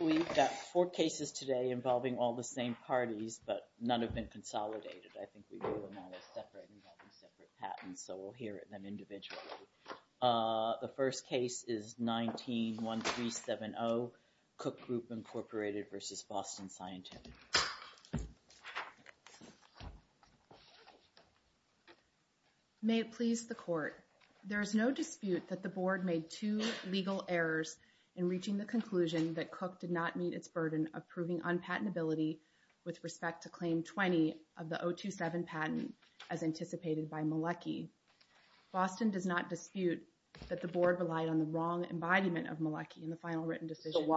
We've got four cases today involving all the same parties, but none have been consolidated. I think we do them all as separate, involving separate patents, so we'll hear them individually. The first case is 19-1370, Cook Group Incorporated v. Boston Scientific. May it please the Court. There is no dispute that the Board made two legal errors in reaching the conclusion that Cook did not meet its burden of proving unpatentability with respect to Claim 20 of the 027 patent, as anticipated by Malecki. Boston does not dispute that the Board relied on the wrong embodiment of Malecki in the final written decision.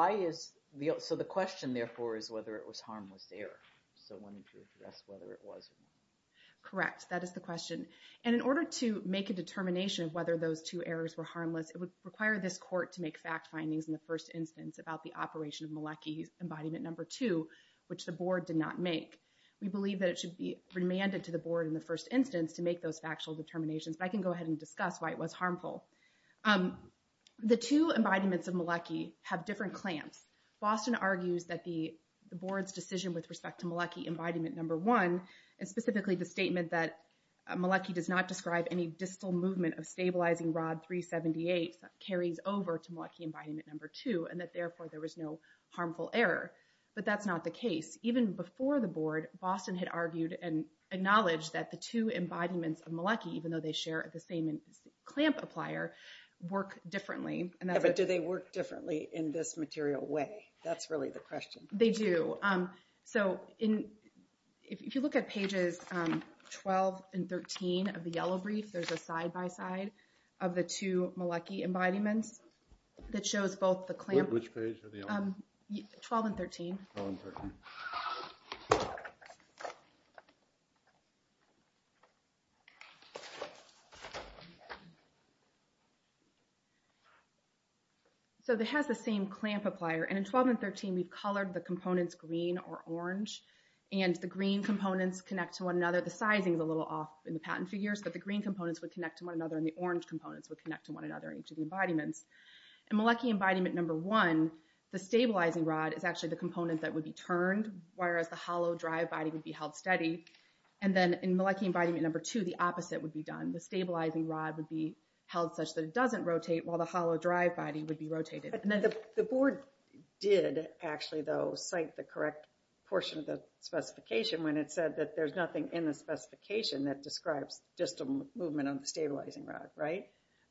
So the question, therefore, is whether it was harmless error. So I wanted you to address whether it was or not. Correct, that is the question. And in order to make a determination of whether those two errors were harmless, it would require this Court to make fact findings in the first instance about the operation of Malecki's embodiment number two, which the Board did not make. We believe that it should be remanded to the Board in the first instance to make those factual determinations, but I can go ahead and discuss why it was harmful. The two embodiments of Malecki have different clamps. Boston argues that the Board's decision with respect to Malecki embodiment number one, and specifically the statement that Malecki does not describe any distal movement of stabilizing rod 378, carries over to Malecki embodiment number two, and that therefore there was no harmful error. But that's not the case. Even before the Board, Boston had argued and acknowledged that the two embodiments of Malecki, even though they share the same clamp applier, work differently. But do they work differently in this material way? That's really the question. They do. So if you look at pages 12 and 13 of the yellow brief, there's a side-by-side of the two Malecki embodiments that shows both the clamp... Which page are they on? 12 and 13. 12 and 13. So it has the same clamp applier, and in 12 and 13, we've colored the components green or orange, and the green components connect to one another. The sizing is a little off in the patent figures, but the green components would connect to one another, and the orange components would connect to one another in each of the embodiments. In Malecki embodiment number one, the stabilizing rod is actually the component that would be turned, whereas the hollow, dry body would be held steady. And then in Malecki embodiment number two, the opposite would be done. The stabilizing rod would be held such that it doesn't rotate, while the hollow, dry body would be rotated. But the board did actually, though, cite the correct portion of the specification when it said that there's nothing in the specification that describes just a movement on the stabilizing rod, right?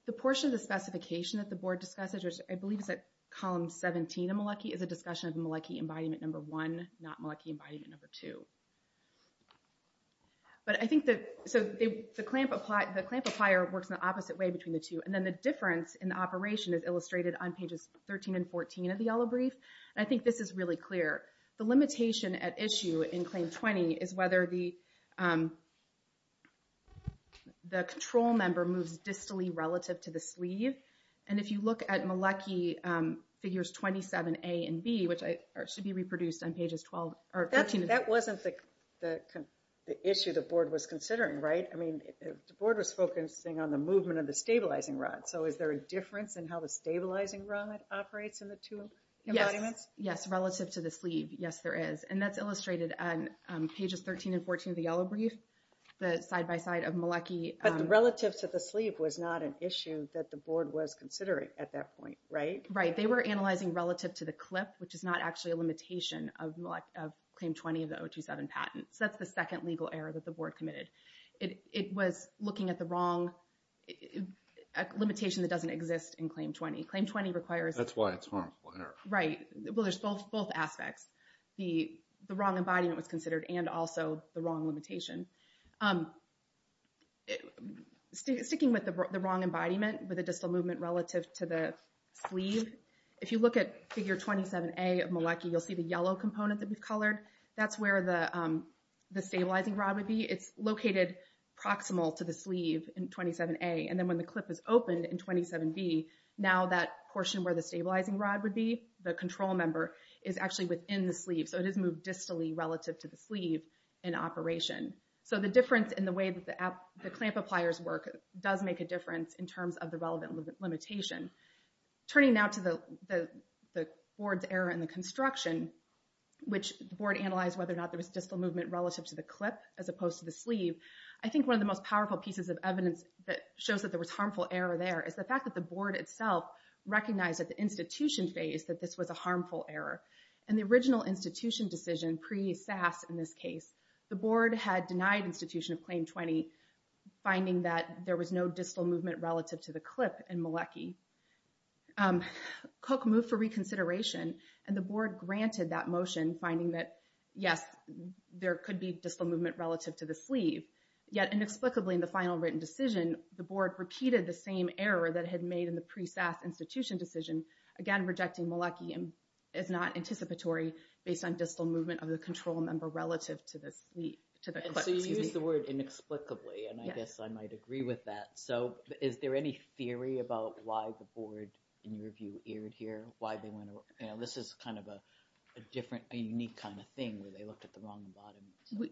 The portion of the specification that the board discussed, which I believe is at column 17 of Malecki, is a discussion of Malecki embodiment number one, not Malecki embodiment number two. But I think that, so the clamp applier works in the opposite way between the two. And then the difference in the operation is illustrated on pages 13 and 14 of the yellow brief. And I think this is really clear. The limitation at issue in claim 20 is whether the control member moves distally relative to the sleeve. And if you look at Malecki figures 27A and B, which should be reproduced on pages 12 or 13 and 14. That wasn't the issue the board was considering, right? I mean, the board was focusing on the movement of the stabilizing rod. So is there a difference in how the stabilizing rod operates in the two embodiments? Yes, relative to the sleeve. Yes, there is. And that's illustrated on pages 13 and 14 of the yellow brief, the side-by-side of Malecki. But relative to the sleeve was not an issue that the board was considering at that point, right? Right. They were analyzing relative to the clip, which is not actually a limitation of claim 20 of the 027 patent. So that's the second legal error that the board committed. It was looking at the wrong limitation that doesn't exist in claim 20. Claim 20 requires... That's why it's harmful error. Right. Well, there's both aspects. The wrong embodiment was considered and also the wrong limitation. Sticking with the wrong embodiment with a distal movement relative to the sleeve, if you look at figure 27A of Malecki, you'll see the yellow component that we've colored. That's where the stabilizing rod would be. It's located proximal to the sleeve in 27A. And then when the clip is opened in 27B, now that portion where the stabilizing rod would be, the control member, is actually within the sleeve. So it is moved distally relative to the sleeve in operation. So the difference in the way that the clamp appliers work does make a difference in terms of the relevant limitation. Turning now to the board's error in the construction, which the board analyzed whether or not there was distal movement relative to the clip as opposed to the sleeve. I think one of the most powerful pieces of evidence that shows that there was harmful error there is the fact that the board itself recognized at the institution phase that this was a harmful error. In the original institution decision, pre-SAS in this case, the board had denied institution of claim 20, finding that there was no distal movement relative to the clip in Malecki. Cook moved for reconsideration, and the board granted that motion, finding that, yes, there could be distal movement relative to the sleeve. Yet inexplicably in the final written decision, the board repeated the same error that it had made in the pre-SAS institution decision, again, rejecting Malecki as not anticipatory based on distal movement of the control member relative to the clip. So you used the word inexplicably, and I guess I might agree with that. Is there any theory about why the board, in your view, erred here? This is kind of a unique kind of thing where they looked at the wrong bottom.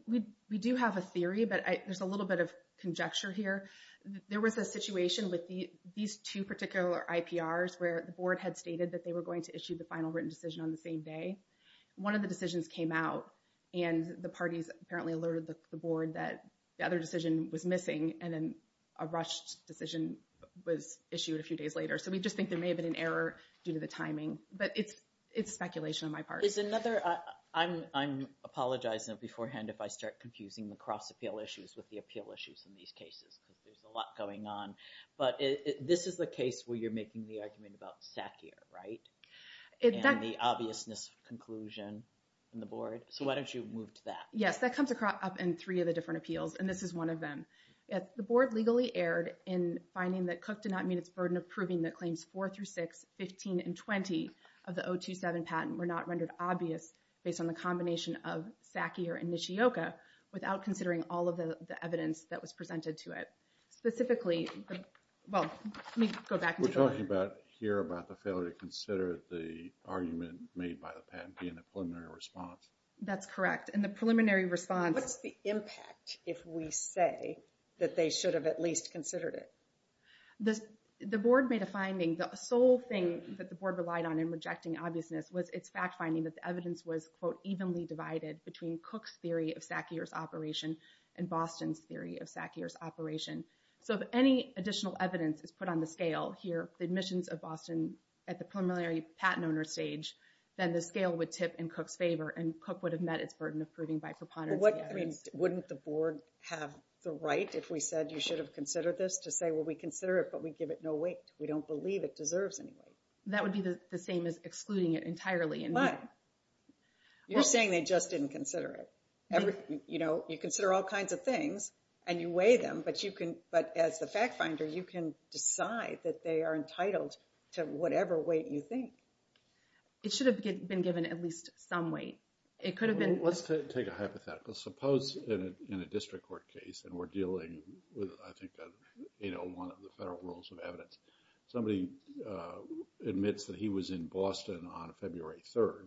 We do have a theory, but there's a little bit of conjecture here. There was a situation with these two particular IPRs where the board had stated that they were going to issue the final written decision on the same day. One of the decisions came out, and the parties apparently alerted the board that the other decision was missing, and then a rushed decision was issued a few days later. So we just think there may have been an error due to the timing. But it's speculation on my part. I'm apologizing beforehand if I start confusing the cross-appeal issues with the appeal issues in these cases because there's a lot going on. But this is the case where you're making the argument about SACIR, right? And the obviousness conclusion in the board. So why don't you move to that? Yes, that comes up in three of the different appeals, and this is one of them. The board legally erred in finding that Cooke did not meet its burden of proving that claims 4 through 6, 15, and 20 of the 027 patent were not rendered obvious based on the combination of SACIR and Nishioka without considering all of the evidence that was presented to it. Specifically, well, let me go back. We're talking here about the failure to consider the argument made by the patent being a preliminary response. That's correct, and the preliminary response... What's the impact if we say that they should have at least considered it? The board made a finding. The sole thing that the board relied on in rejecting obviousness was its fact finding that the evidence was, quote, evenly divided between Cooke's theory of SACIR's operation and Boston's theory of SACIR's operation. So if any additional evidence is put on the scale here, the admissions of Boston at the preliminary patent owner stage, then the scale would tip in Cooke's favor, and Cooke would have met its burden of proving by preponderance of the evidence. Wouldn't the board have the right if we said you should have considered this to say, well, we consider it, but we give it no weight. We don't believe it deserves any weight. That would be the same as excluding it entirely. You're saying they just didn't consider it. You consider all kinds of things, and you weigh them, but as the fact finder, you can decide that they are entitled to whatever weight you think. It should have been given at least some weight. Let's take a hypothetical. Suppose in a district court case, and we're dealing with, I think, one of the federal rules of evidence. Somebody admits that he was in Boston on February 3rd,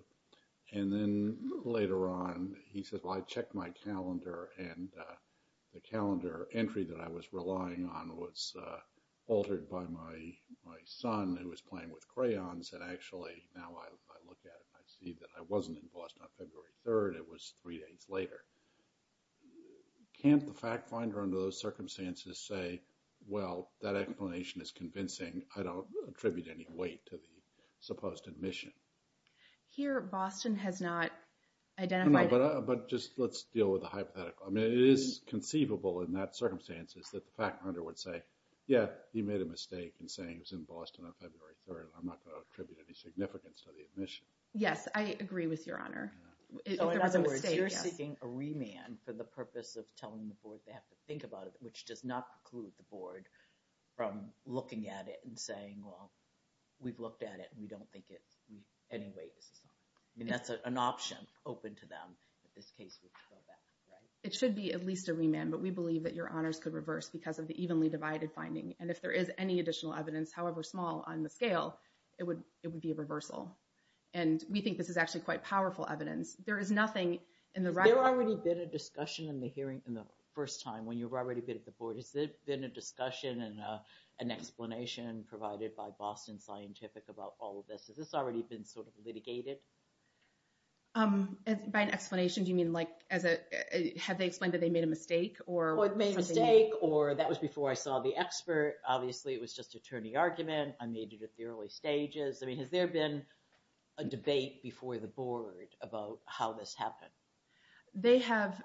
and then later on, he says, well, I checked my calendar, and the calendar entry that I was relying on was altered by my son, who was playing with crayons, and actually now I look at it, and I see that I wasn't in Boston on February 3rd. It was three days later. Can't the fact finder under those circumstances say, well, that explanation is convincing. I don't attribute any weight to the supposed admission. Here, Boston has not identified it. But just let's deal with the hypothetical. I mean, it is conceivable in that circumstances that the fact finder would say, yeah, he made a mistake in saying he was in Boston on February 3rd. I'm not going to attribute any significance to the admission. Yes, I agree with Your Honor. So in other words, you're seeking a remand for the purpose of telling the board they have to think about it, which does not preclude the board from looking at it and saying, well, we've looked at it, and we don't think any weight is assigned. I mean, that's an option open to them in this case. It should be at least a remand, but we believe that Your Honors could reverse because of the evenly divided finding. And if there is any additional evidence, however small, on the scale, it would be a reversal. And we think this is actually quite powerful evidence. There is nothing in the record. Has there already been a discussion in the hearing in the first time when you've already been at the board? Has there been a discussion and an explanation provided by Boston Scientific about all of this? Has this already been sort of litigated? By an explanation, do you mean, like, have they explained that they made a mistake? Well, it made a mistake, or that was before I saw the expert. Obviously, it was just attorney argument. I made it at the early stages. I mean, has there been a debate before the board about how this happened? They have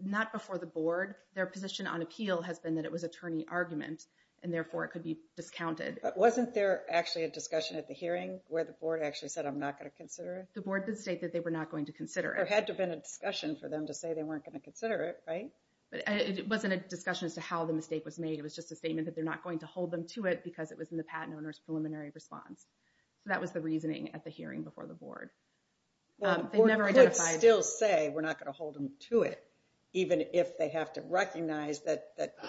not before the board. Their position on appeal has been that it was attorney argument, and, therefore, it could be discounted. But wasn't there actually a discussion at the hearing where the board actually said, I'm not going to consider it? The board did state that they were not going to consider it. There had to have been a discussion for them to say they weren't going to consider it, right? It wasn't a discussion as to how the mistake was made. It was just a statement that they're not going to hold them to it because it was in the patent owner's preliminary response. So that was the reasoning at the hearing before the board. Well, the board could still say we're not going to hold them to it, even if they have to recognize that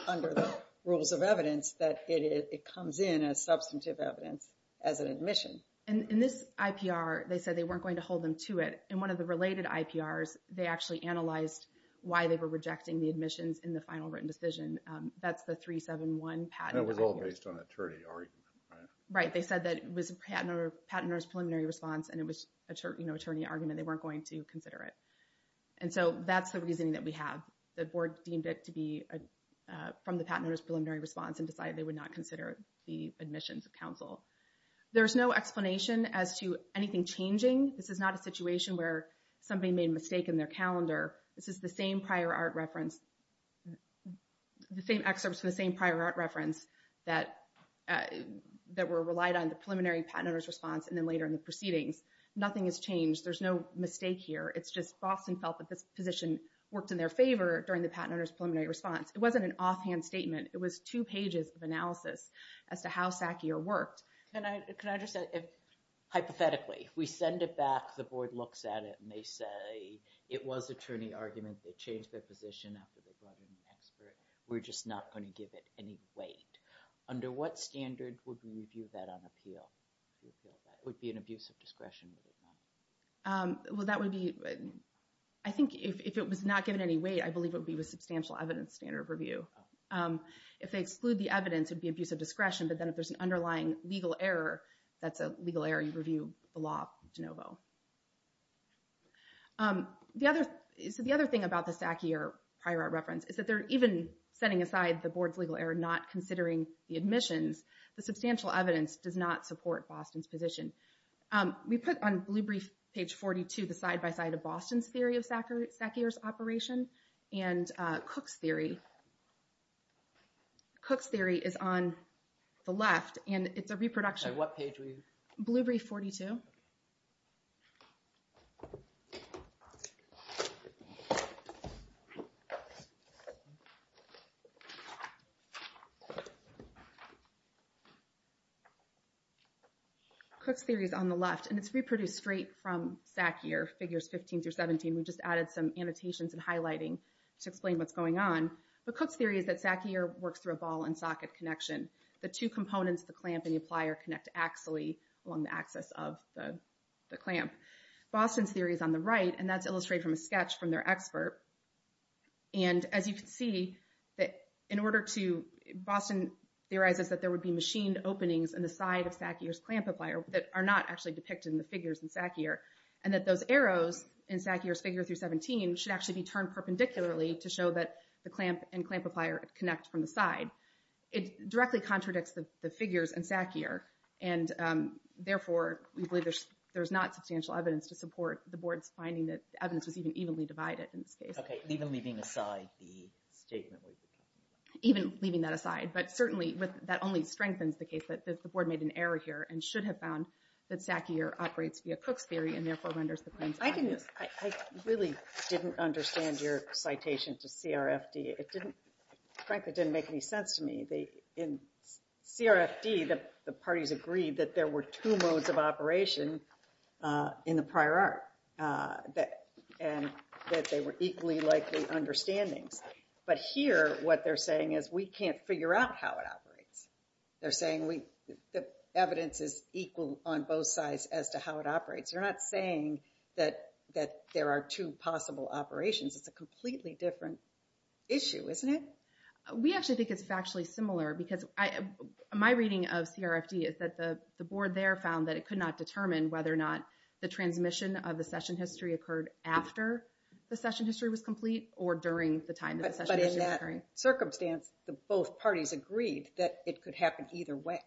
under the rules of evidence that it comes in as substantive evidence as an admission. In this IPR, they said they weren't going to hold them to it. In one of the related IPRs, they actually analyzed why they were rejecting the admissions in the final written decision. That's the 371 patent IPR. That was all based on attorney argument, right? Right. They said that it was patent owner's preliminary response, and it was attorney argument. They weren't going to consider it. And so that's the reasoning that we have. The board deemed it to be from the patent owner's preliminary response and decided they would not consider the admissions of counsel. There's no explanation as to anything changing. This is not a situation where somebody made a mistake in their calendar. This is the same prior art reference, the same excerpts from the same prior art reference that were relied on the preliminary patent owner's response and then later in the proceedings. Nothing has changed. There's no mistake here. It's just Boston felt that this position worked in their favor during the patent owner's preliminary response. It wasn't an offhand statement. It was two pages of analysis as to how SACIR worked. Can I just say, hypothetically, we send it back, the board looks at it, and they say it was attorney argument. They changed their position after they brought in the expert. We're just not going to give it any weight. Would it be an abuse of discretion? Well, that would be... I think if it was not given any weight, I believe it would be with substantial evidence standard of review. If they exclude the evidence, it would be abuse of discretion, but then if there's an underlying legal error, that's a legal error, you review the law de novo. So the other thing about the SACIR prior art reference is that they're even setting aside the board's legal error, not considering the admissions. The substantial evidence does not support Boston's position. We put on blue brief page 42, the side-by-side of Boston's theory of SACIR's operation, and Cook's theory... Cook's theory is on the left, and it's a reproduction... On what page were you? Blue brief 42. Thank you. Cook's theory is on the left, and it's reproduced straight from SACIR figures 15 through 17. We just added some annotations and highlighting to explain what's going on. But Cook's theory is that SACIR works through a ball-and-socket connection. The two components, the clamp and the plier, connect axially along the axis of the clamp. Boston's theory is on the right, and that's illustrated from a sketch from their expert. And as you can see, in order to... Boston theorizes that there would be machined openings on the side of SACIR's clamp-applier that are not actually depicted in the figures in SACIR, and that those arrows in SACIR's figure through 17 should actually be turned perpendicularly to show that the clamp and clamp-applier connect from the side. It directly contradicts the figures in SACIR, and therefore, we believe there's not substantial evidence to support the board's finding that the evidence was even evenly divided in this case. Okay, even leaving aside the statement... Even leaving that aside. But certainly, that only strengthens the case that the board made an error here and should have found that SACIR operates via Cook's theory and therefore renders the clamps... I really didn't understand your citation to CRFD. Frankly, it didn't make any sense to me. In CRFD, the parties agreed that there were two modes of operation in the prior art and that they were equally likely understandings. But here, what they're saying is, we can't figure out how it operates. They're saying the evidence is equal on both sides as to how it operates. They're not saying that there are two possible operations. It's a completely different issue, isn't it? We actually think it's factually similar because my reading of CRFD is that the board there found that it could not determine whether or not the transmission of the session history occurred after the session history was complete or during the time that the session history was occurring. But in that circumstance, both parties agreed that it could happen either way.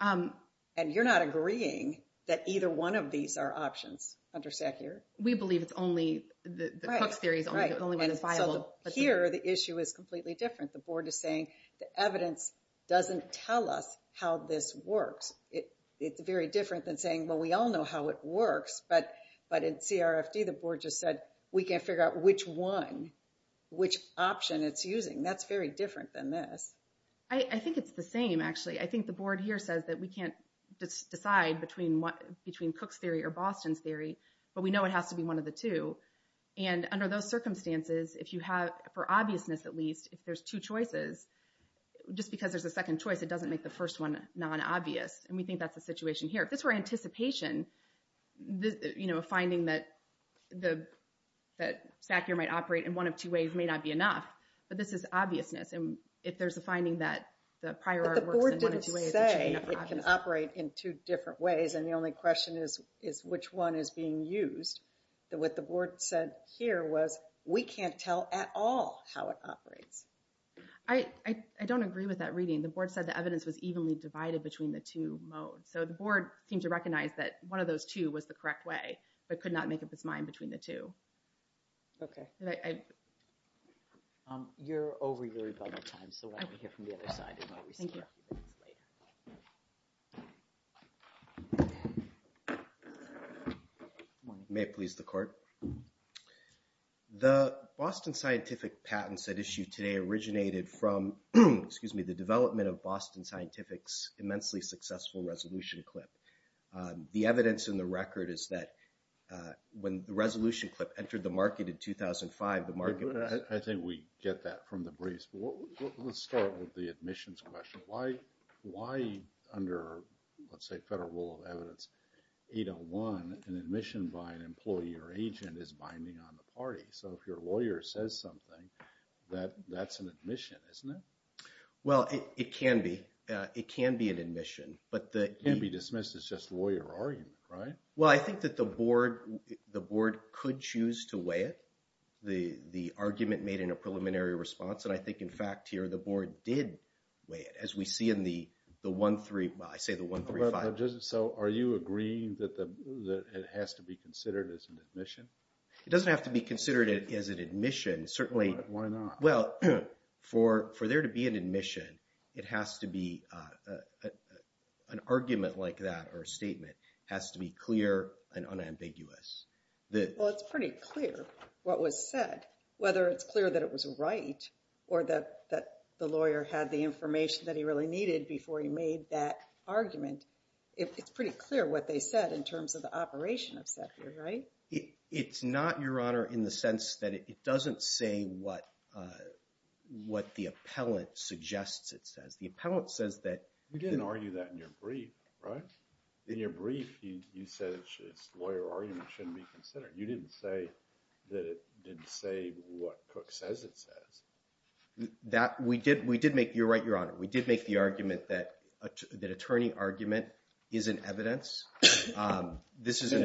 And you're not agreeing that either one of these are options under SACIR? We believe it's only, the Cooke's theory is the only one that's viable. Here, the issue is completely different. The board is saying the evidence doesn't tell us how this works. It's very different than saying, well, we all know how it works. But in CRFD, the board just said, we can't figure out which one, which option it's using. That's very different than this. I think it's the same, actually. I think the board here says that we can't decide between Cooke's theory or Boston's theory, but we know it has to be one of the two. And under those circumstances, if you have, for obviousness at least, if there's two choices, just because there's a second choice, it doesn't make the first one non-obvious. And we think that's the situation here. If this were anticipation, you know, a finding that SACIR might operate in one of two ways may not be enough. But this is obviousness. And if there's a finding that the prior art works in one of two ways, it should be non-obvious. But the board didn't say it can operate in two different ways. And the only question is, which one is being used? What the board said here was, we can't tell at all how it operates. I don't agree with that reading. The board said the evidence was evenly divided between the two modes. So the board seemed to recognize that one of those two was the correct way, but could not make up its mind between the two. Okay. You're over your rebuttal time, so let me hear from the other side and I'll receive questions later. May it please the court. The Boston Scientific patents at issue today originated from, excuse me, the development of Boston Scientific's immensely successful resolution clip. The evidence in the record is that when the resolution clip entered the market in 2005, the market was... I think we get that from the briefs. Let's start with the admissions question. Why under, let's say, under the Federal Rule of Evidence 801, an admission by an employee or agent is binding on the party? So if your lawyer says something, that's an admission, isn't it? Well, it can be. It can be an admission, but the... It can't be dismissed as just lawyer argument, right? Well, I think that the board could choose to weigh it. The argument made in a preliminary response, and I think, in fact, here the board did weigh it. As we see in the 135... Well, I say the 135. So are you agreeing that it has to be considered as an admission? It doesn't have to be considered as an admission. Certainly... Why not? Well, for there to be an admission, it has to be... An argument like that or a statement has to be clear and unambiguous. Well, it's pretty clear what was said, whether it's clear that it was right or that the lawyer had the information that he really needed before he made that argument. It's pretty clear what they said in terms of the operation of SEPIR, right? It's not, Your Honor, in the sense that it doesn't say what the appellant suggests it says. The appellant says that... You didn't argue that in your brief, right? In your brief, you said its lawyer argument shouldn't be considered. You didn't say that it didn't say what Cook says it says. We did make... You're right, Your Honor. We did make the argument that attorney argument isn't evidence. And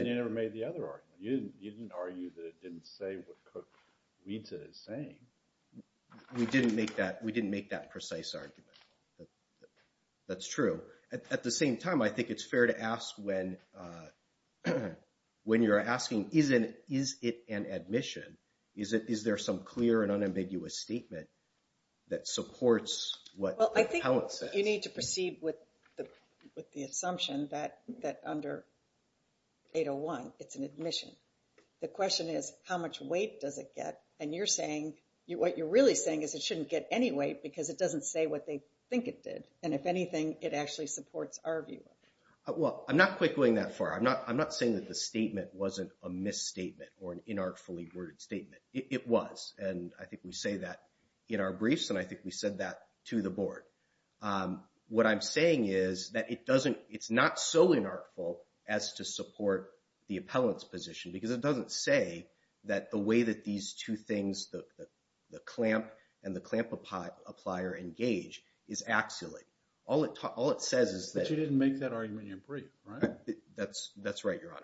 you never made the other argument. You didn't argue that it didn't say what Cook reads it as saying. We didn't make that precise argument. That's true. At the same time, I think it's fair to ask when... When you're asking, is it an admission, is there some clear and unambiguous statement that supports what the appellant says? Well, I think you need to proceed with the assumption that under 801, it's an admission. The question is, how much weight does it get? And you're saying... What you're really saying is it shouldn't get any weight because it doesn't say what they think it did. And if anything, it actually supports our view. Well, I'm not quite going that far. I'm not saying that the statement wasn't a misstatement or an inartfully worded statement. It was, and I think we say that in our briefs, and I think we said that to the board. What I'm saying is that it doesn't... It's not so inartful as to support the appellant's position because it doesn't say that the way that these two things, the clamp and the clamp applier engage, is axially. All it says is that... But you didn't make that argument in your brief, right? That's right, Your Honor.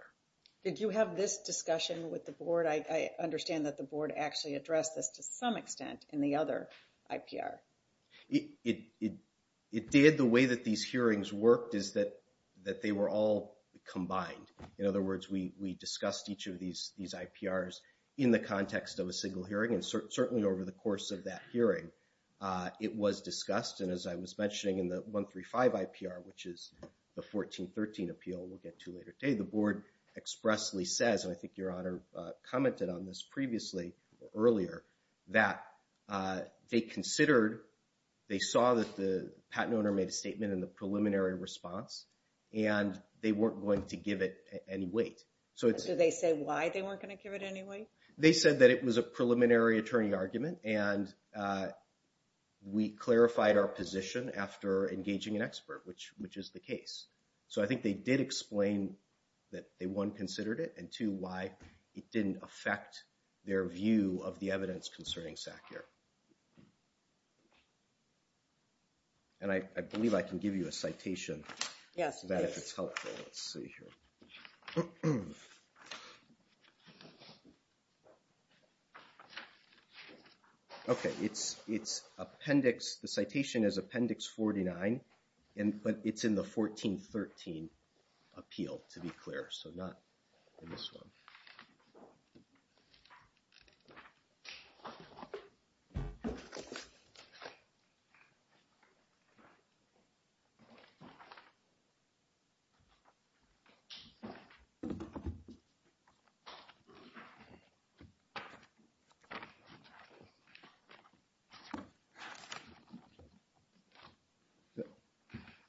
Did you have this discussion with the board? I understand that the board actually addressed this to some extent in the other IPR. It did. The way that these hearings worked is that they were all combined. In other words, we discussed each of these IPRs in the context of a single hearing, and certainly over the course of that hearing, it was discussed. And as I was mentioning in the 135 IPR, which is the 1413 appeal we'll get to later today, the board expressly says, and I think Your Honor commented on this previously or earlier, that they considered... They saw that the patent owner made a statement in the preliminary response, and they weren't going to give it any weight. So they say why they weren't going to give it any weight? They said that it was a preliminary attorney argument, and we clarified our position after engaging an expert, which is the case. So I think they did explain that they, one, considered it, and two, why it didn't affect their view of the evidence concerning SACIR. And I believe I can give you a citation. Yes, please. Let's see here. Okay, it's appendix... The citation is appendix 49, but it's in the 1413 appeal, to be clear, so not in this one. Okay.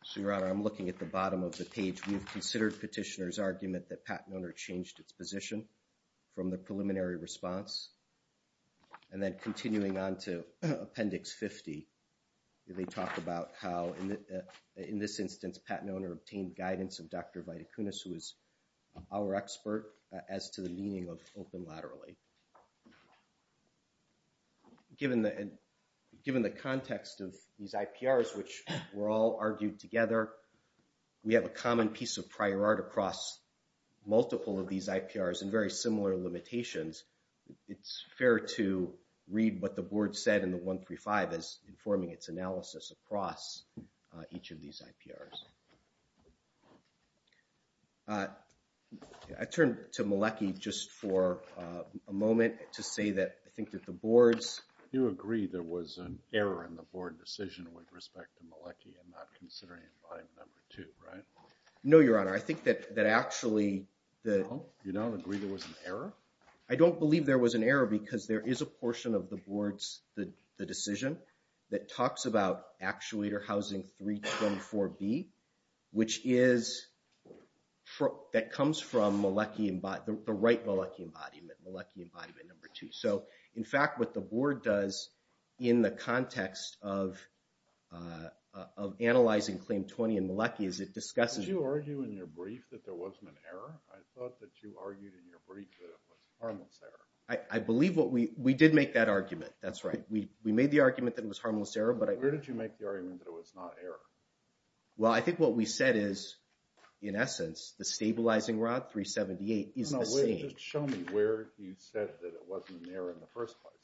So, Your Honor, I'm looking at the bottom of the page. We've considered petitioner's argument that patent owner changed its position from the preliminary response. And then continuing on to appendix 50, they talk about how, in this instance, patent owner obtained guidance of Dr. Viticunas, who is our expert, as to the meaning of open laterally. Given the context of these IPRs, which were all argued together, we have a common piece of prior art across multiple of these IPRs and very similar limitations. It's fair to read what the board said in the 135 as informing its analysis across each of these IPRs. I turned to Mielecki just for a moment to say that I think that the board's... You agree there was an error in the board decision with respect to Mielecki and not considering it by number two, right? No, Your Honor, I think that actually the... Oh, you don't agree there was an error? I don't believe there was an error because there is a portion of the board's decision that talks about Actuator Housing 324B, which is... that comes from the right Mielecki embodiment, Mielecki embodiment number two. So, in fact, what the board does in the context of analyzing Claim 20 and Mielecki is it discusses... Did you argue in your brief that there wasn't an error? I thought that you argued in your brief that it was harmless error. I believe what we... We did make that argument. That's right. We made the argument that it was harmless error, but I... Where did you make the argument that it was not error? Well, I think what we said is, in essence, the stabilizing rod, 378, is the same. No, wait, just show me where you said that it wasn't an error in the first place.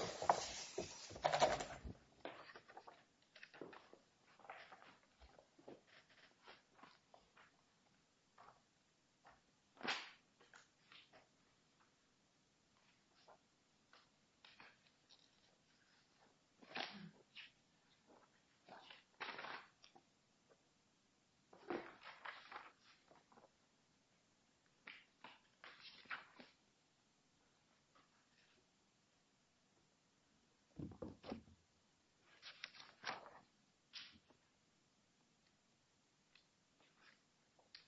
Okay.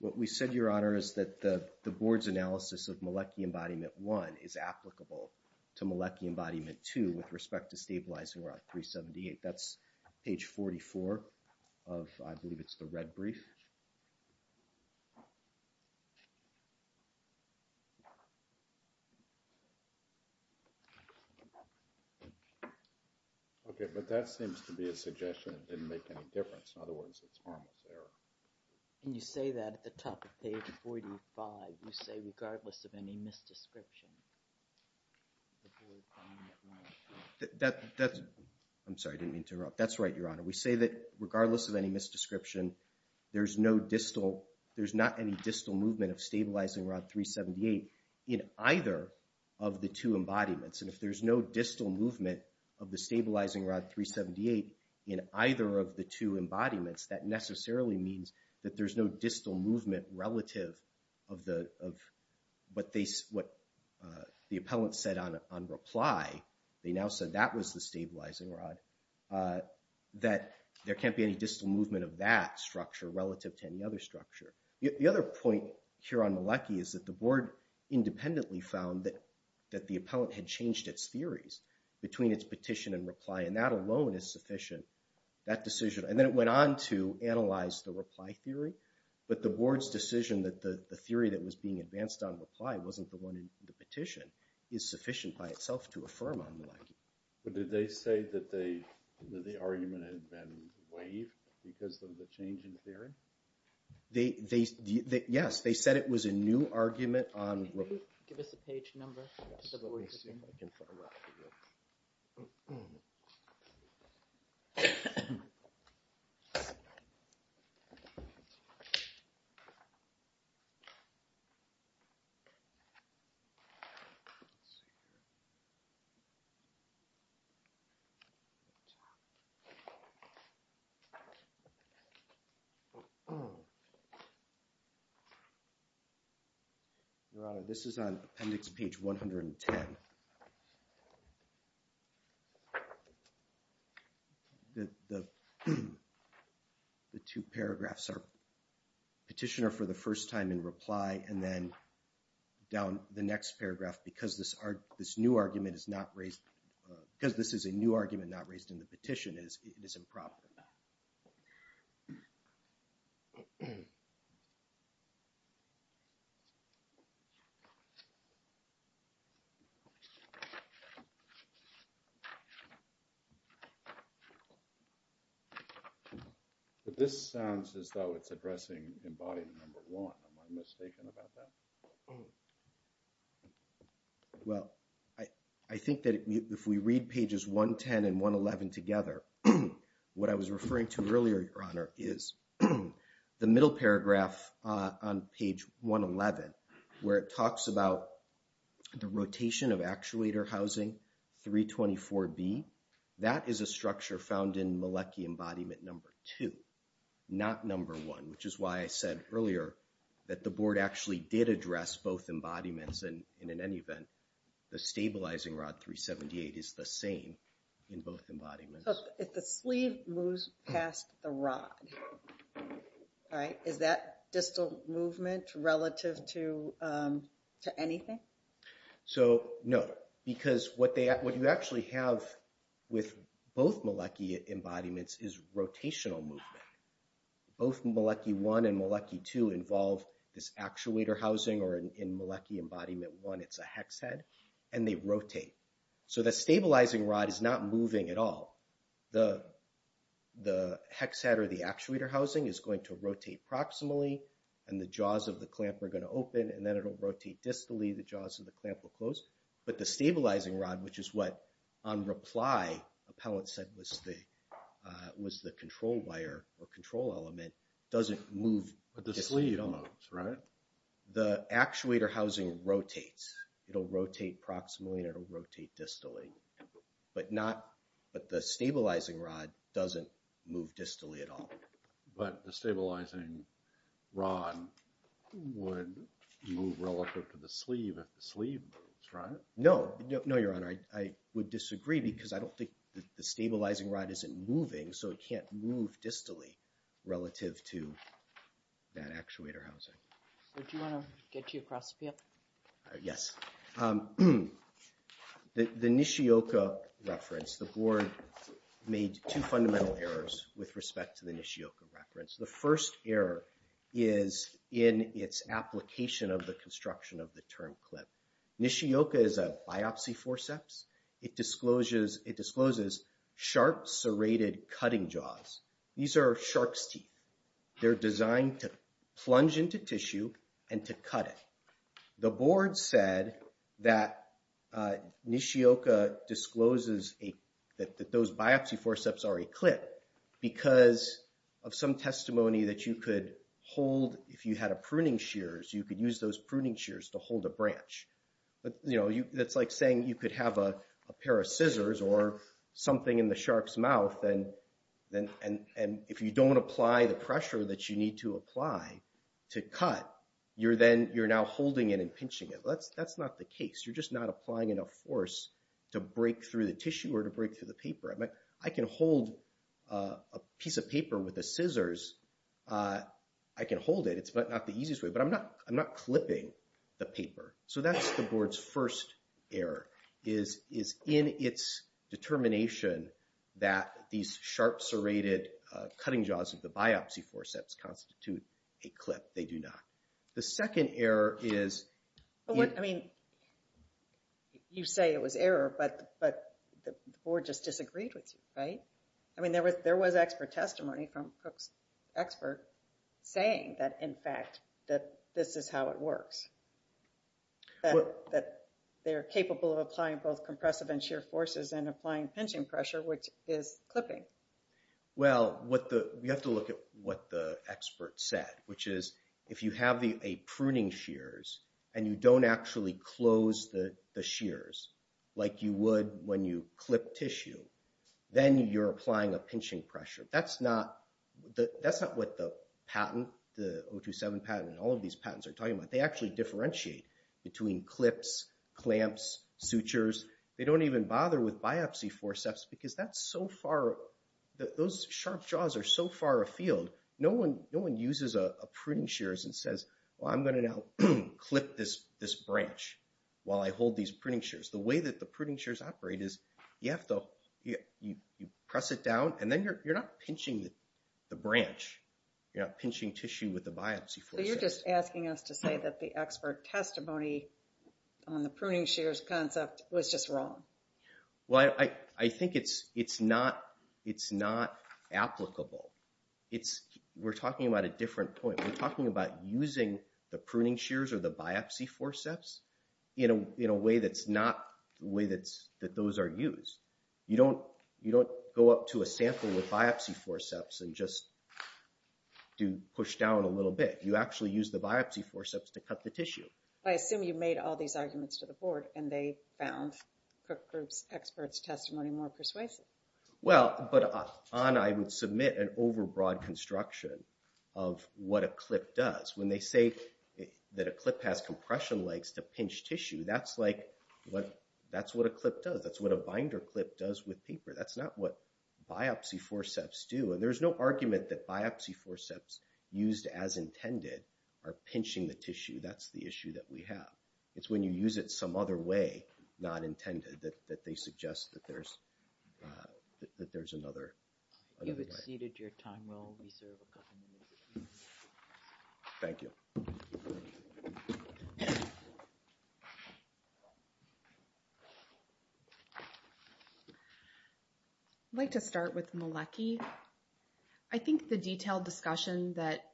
What we said, Your Honor, is that the board's analysis of Mielecki embodiment one is applicable to Mielecki embodiment two with respect to stabilizing rod 378. That's page 44 of... I believe it's the red brief. Okay, but that seems to be a suggestion that didn't make any difference. In other words, it's harmless error. And you say that at the top of page 45. You say, regardless of any misdescription, the board... That's... I'm sorry, I didn't mean to interrupt. That's right, Your Honor. We say that, regardless of any misdescription, there's no distal... There's not any distal movement of stabilizing rod 378 in either of the two embodiments. And if there's no distal movement of the stabilizing rod 378 in either of the two embodiments, that necessarily means that there's no distal movement relative of what the appellant said on reply. They now said that was the stabilizing rod. That there can't be any distal movement of that structure relative to any other structure. The other point here on Mielecki is that the board independently found that the appellant had changed its theories between its petition and reply. And that alone is sufficient. That decision... And then it went on to analyze the reply theory. But the board's decision that the theory that was being advanced on reply wasn't the one in the petition is sufficient by itself to affirm on Mielecki. But did they say that the argument had been waived because of the change in theory? Yes, they said it was a new argument on... Can you give us a page number? Let's see if I can find that. Let's see here. Let's see here. Your Honor, this is on appendix page 110. The two paragraphs are petitioner for the first time in reply and then down the next paragraph because this new argument is not raised... Because this is a new argument not raised in the petition, it is improper. But this sounds as though it's addressing Am I mistaken about that? Well, I think that if we read pages 110 and 111 together, what I was referring to earlier, Your Honor, is the middle paragraph on page 111 where it talks about the rotation of actuator housing 324B. That is a structure found in Mielecki embodiment number two, not number one, which is why I said earlier that the board actually did address both embodiments and in any event, the stabilizing rod 378 is the same in both embodiments. So if the sleeve moves past the rod, is that distal movement relative to anything? So no, because what you actually have with both Mielecki embodiments is rotational movement. Both Mielecki one and Mielecki two involve this actuator housing or in Mielecki embodiment one, it's a hex head and they rotate. So the stabilizing rod is not moving at all. The hex head or the actuator housing is going to rotate proximally and the jaws of the clamp are going to open and then it'll rotate distally, the jaws of the clamp will close. But the stabilizing rod, which is what, on reply, Appellant said was the control wire or control element, doesn't move distally at all. But the sleeve moves, right? The actuator housing rotates. It'll rotate proximally and it'll rotate distally. But the stabilizing rod doesn't move distally at all. But the stabilizing rod would move relative to the sleeve No, no, Your Honor, I would disagree because I don't think the stabilizing rod isn't moving so it can't move distally relative to that actuator housing. So do you want to get you across the field? Yes. The Nishioka reference, the board made two fundamental errors with respect to the Nishioka reference. The first error is in its application of the construction of the term clip. Nishioka is a biopsy forceps. It discloses sharp serrated cutting jaws. These are shark's teeth. They're designed to plunge into tissue and to cut it. The board said that Nishioka discloses that those biopsy forceps are a clip because of some testimony that you could hold, if you had a pruning shears, you could use those pruning shears to hold a branch. That's like saying you could have a pair of scissors or something in the shark's mouth and if you don't apply the pressure that you need to apply to cut, you're now holding it and pinching it. That's not the case. You're just not applying enough force to break through the tissue or to break through the paper. I can hold a piece of paper with the scissors. I can hold it. It's not the easiest way, but I'm not clipping the paper. So that's the board's first error is in its determination that these sharp serrated cutting jaws of the biopsy forceps constitute a clip. They do not. The second error is... I mean, you say it was error, but the board just disagreed with you, right? I mean, there was expert testimony from Cook's expert saying that, in fact, that this is how it works. That they're capable of applying both compressive and shear forces and applying pinching pressure, which is clipping. Well, we have to look at what the expert said, which is if you have a pruning shears and you don't actually close the shears like you would when you clip tissue, then you're applying a pinching pressure. That's not what the patent, the 027 patent, and all of these patents are talking about. They actually differentiate between clips, clamps, sutures. They don't even bother with biopsy forceps because that's so far... Those sharp jaws are so far afield. No one uses a pruning shears and says, well, I'm going to now clip this branch while I hold these pruning shears. The way that the pruning shears operate is you have to press it down and then you're not pinching the branch. You're not pinching tissue with the biopsy forceps. So you're just asking us to say that the expert testimony on the pruning shears concept was just wrong. Well, I think it's not applicable. We're talking about a different point. We're talking about using the pruning shears or the biopsy forceps in a way that's not the way that those are used. You don't go up to a sample with biopsy forceps and just push down a little bit. You actually use the biopsy forceps to cut the tissue. I assume you made all these arguments to the board and they found Cook Group's expert testimony more persuasive. Well, but I would submit an overbroad construction of what a clip does. When they say that a clip has compression legs to pinch tissue, that's what a clip does. That's what a binder clip does with paper. That's not what biopsy forceps do. And there's no argument that biopsy forceps used as intended are pinching the tissue. That's the issue that we have. It's when you use it some other way, not intended, that they suggest that there's another way. You've exceeded your time. We'll reserve a couple minutes. Thank you. I'd like to start with Melecky. I think the detailed discussion that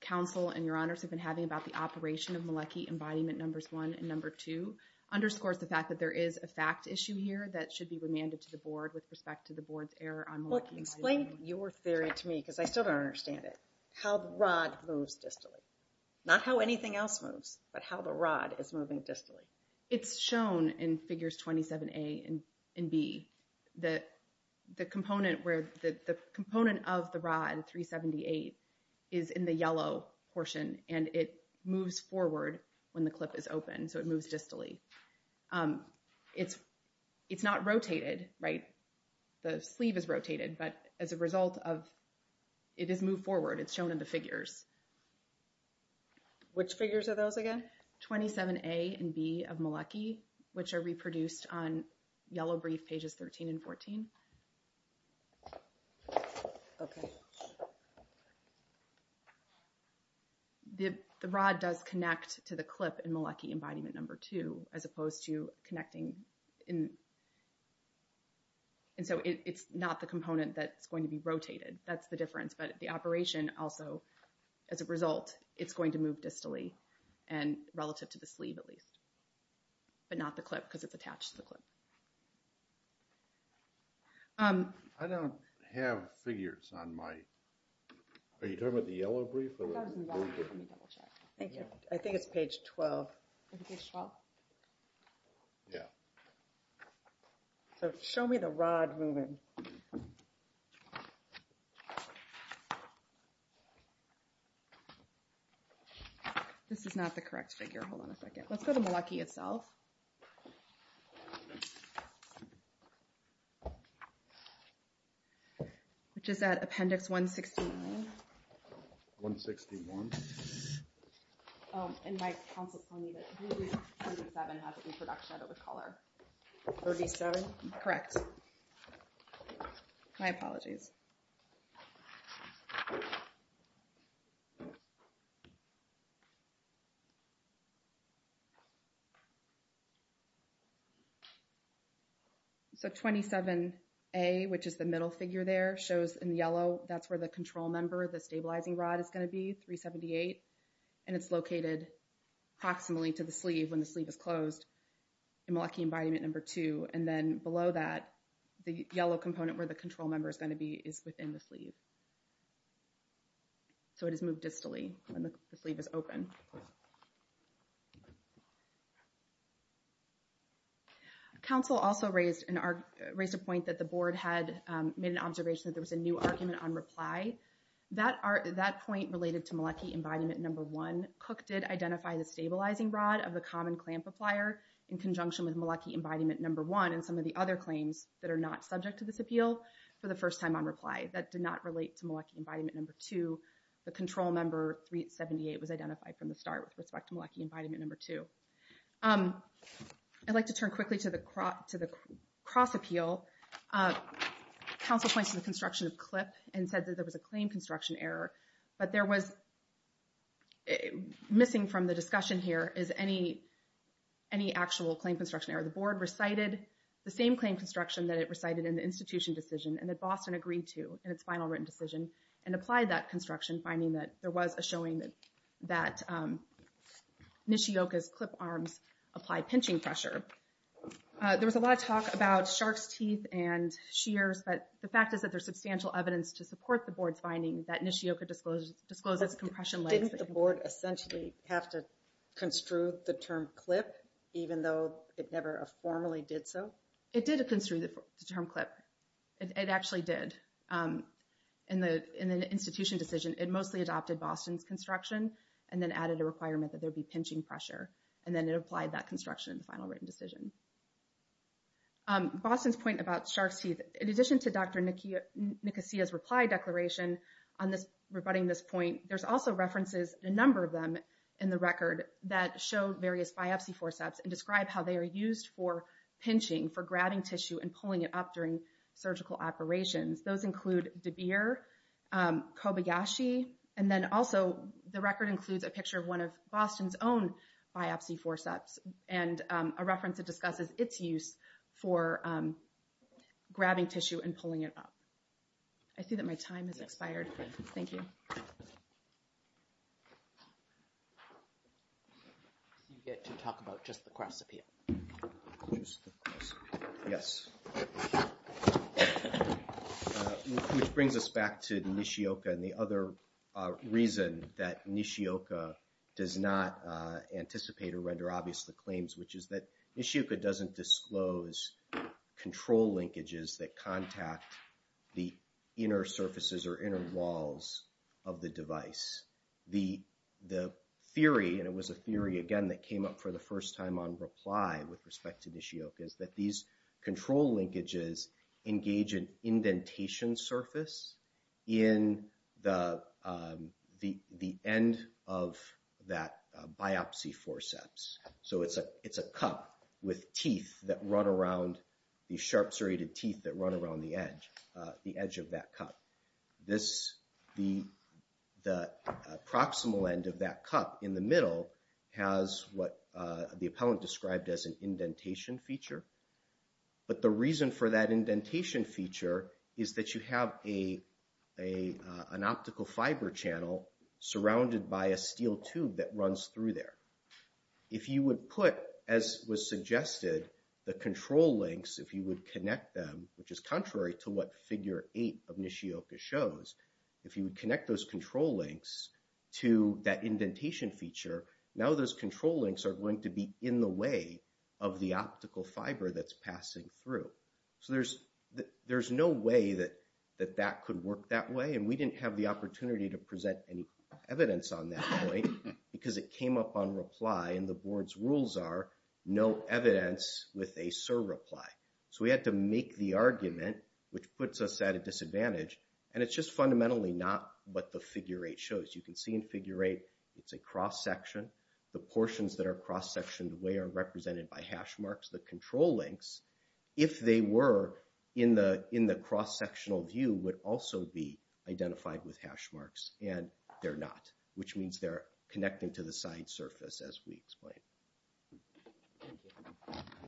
counsel and your honors have been having about the operation of Melecky embodiment numbers one and number two underscores the fact that there is a fact issue here that should be remanded to the board with respect to the board's error on Melecky. Explain your theory to me, because I still don't understand it, how the rod moves distally. Not how anything else moves, but how the rod is moving distally. It's shown in figures 27A and B that the component of the rod, 378, is in the yellow portion, and it moves forward when the clip is open, so it moves distally. It's not rotated, right? The sleeve is rotated, but as a result of it is moved forward. It's shown in the figures. Which figures are those again? 27A and B of Melecky, which are reproduced on yellow brief pages 13 and 14. Okay. The rod does connect to the clip in Melecky embodiment number two, as opposed to connecting in... And so it's not the component that's going to be rotated. That's the difference, but the operation also, as a result, it's going to move distally relative to the sleeve at least, but not the clip because it's attached to the clip. I don't have figures on my... Are you talking about the yellow brief? Thank you. I think it's page 12. Page 12? Yeah. So show me the rod moving. This is not the correct figure. Hold on a second. Let's go to Melecky itself. Which is at appendix 169. 161? And my counsel told me that 37 has an introduction of the color. 37? Correct. My apologies. Okay. So 27A, which is the middle figure there, shows in yellow, that's where the control member of the stabilizing rod is going to be, 378. And it's located approximately to the sleeve when the sleeve is closed in Melecky embodiment number two. And then below that, the yellow component where the control member is going to be is within the sleeve. So it is moved distally when the sleeve is open. Counsel also raised a point that the board had made an observation that there was a new argument on reply. That point related to Melecky embodiment number one. Cook did identify the stabilizing rod of the common clamp applier in conjunction with Melecky embodiment number one and some of the other claims that are not subject to this appeal for the first time on reply. That did not relate to Melecky embodiment number two. The control member, 378, was identified from the start with respect to Melecky embodiment number two. I'd like to turn quickly to the cross appeal. Counsel points to the construction of clip and said that there was a claim construction error, but there was, missing from the discussion here is any actual claim construction error. The board recited the same claim construction that it recited in the constitution decision and that Boston agreed to in its final written decision and applied that construction, finding that there was a showing that Nishioka's clip arms apply pinching pressure. There was a lot of talk about shark's teeth and shears, but the fact is that there's substantial evidence to support the board's finding that Nishioka discloses compression legs. Didn't the board essentially have to construe the term clip, even though it never formally did so? It did construe the term clip. It actually did. In the institution decision, it mostly adopted Boston's construction and then added a requirement that there'd be pinching pressure and then it applied that construction in the final written decision. Boston's point about shark's teeth, in addition to Dr. Nicosia's reply declaration on this, rebutting this point, there's also references, a number of them in the record that showed various biopsy forceps and for grabbing tissue and pulling it up during surgical operations. Those include DeBeer, Kobayashi, and then also the record includes a picture of one of Boston's own biopsy forceps and a reference that discusses its use for grabbing tissue and pulling it up. I see that my time has expired. Thank you. You get to talk about just the cross-appeal. Just the cross-appeal, yes. Which brings us back to Nishioka and the other reason that Nishioka does not anticipate or render obvious the claims, which is that Nishioka doesn't disclose control linkages that contact the inner surfaces or inner walls of the device. The theory, and it was a theory, again, that came up for the first time on reply with respect to Nishioka, is that these control linkages engage an indentation surface in the end of that biopsy forceps. It's a cup with teeth that run around, these sharp serrated teeth that run around the edge of that cup. The proximal end of that cup in the middle has what the appellant described as an indentation feature. But the reason for that indentation feature is that you have an optical fiber channel surrounded by a steel tube that runs through there. If you would put, as was suggested, the control links, if you would connect them, which is contrary to what figure eight of Nishioka shows, if you would connect those control links to that indentation feature, now those control links are going to be in the way of the optical fiber that's passing through. So there's no way that that could work that way, and we didn't have the opportunity to present any evidence on that point because it came up on reply and the board's rules are no evidence with a surreply. So we had to make the argument, which puts us at a disadvantage, and it's just fundamentally not what the figure eight shows. You can see in figure eight, it's a cross-section. The portions that are cross-sectioned away are represented by hash marks. The control links, if they were in the cross-sectional view, would also be identified with hash marks, and they're not, which means they're connecting to the side surface, as we explained. Thank you.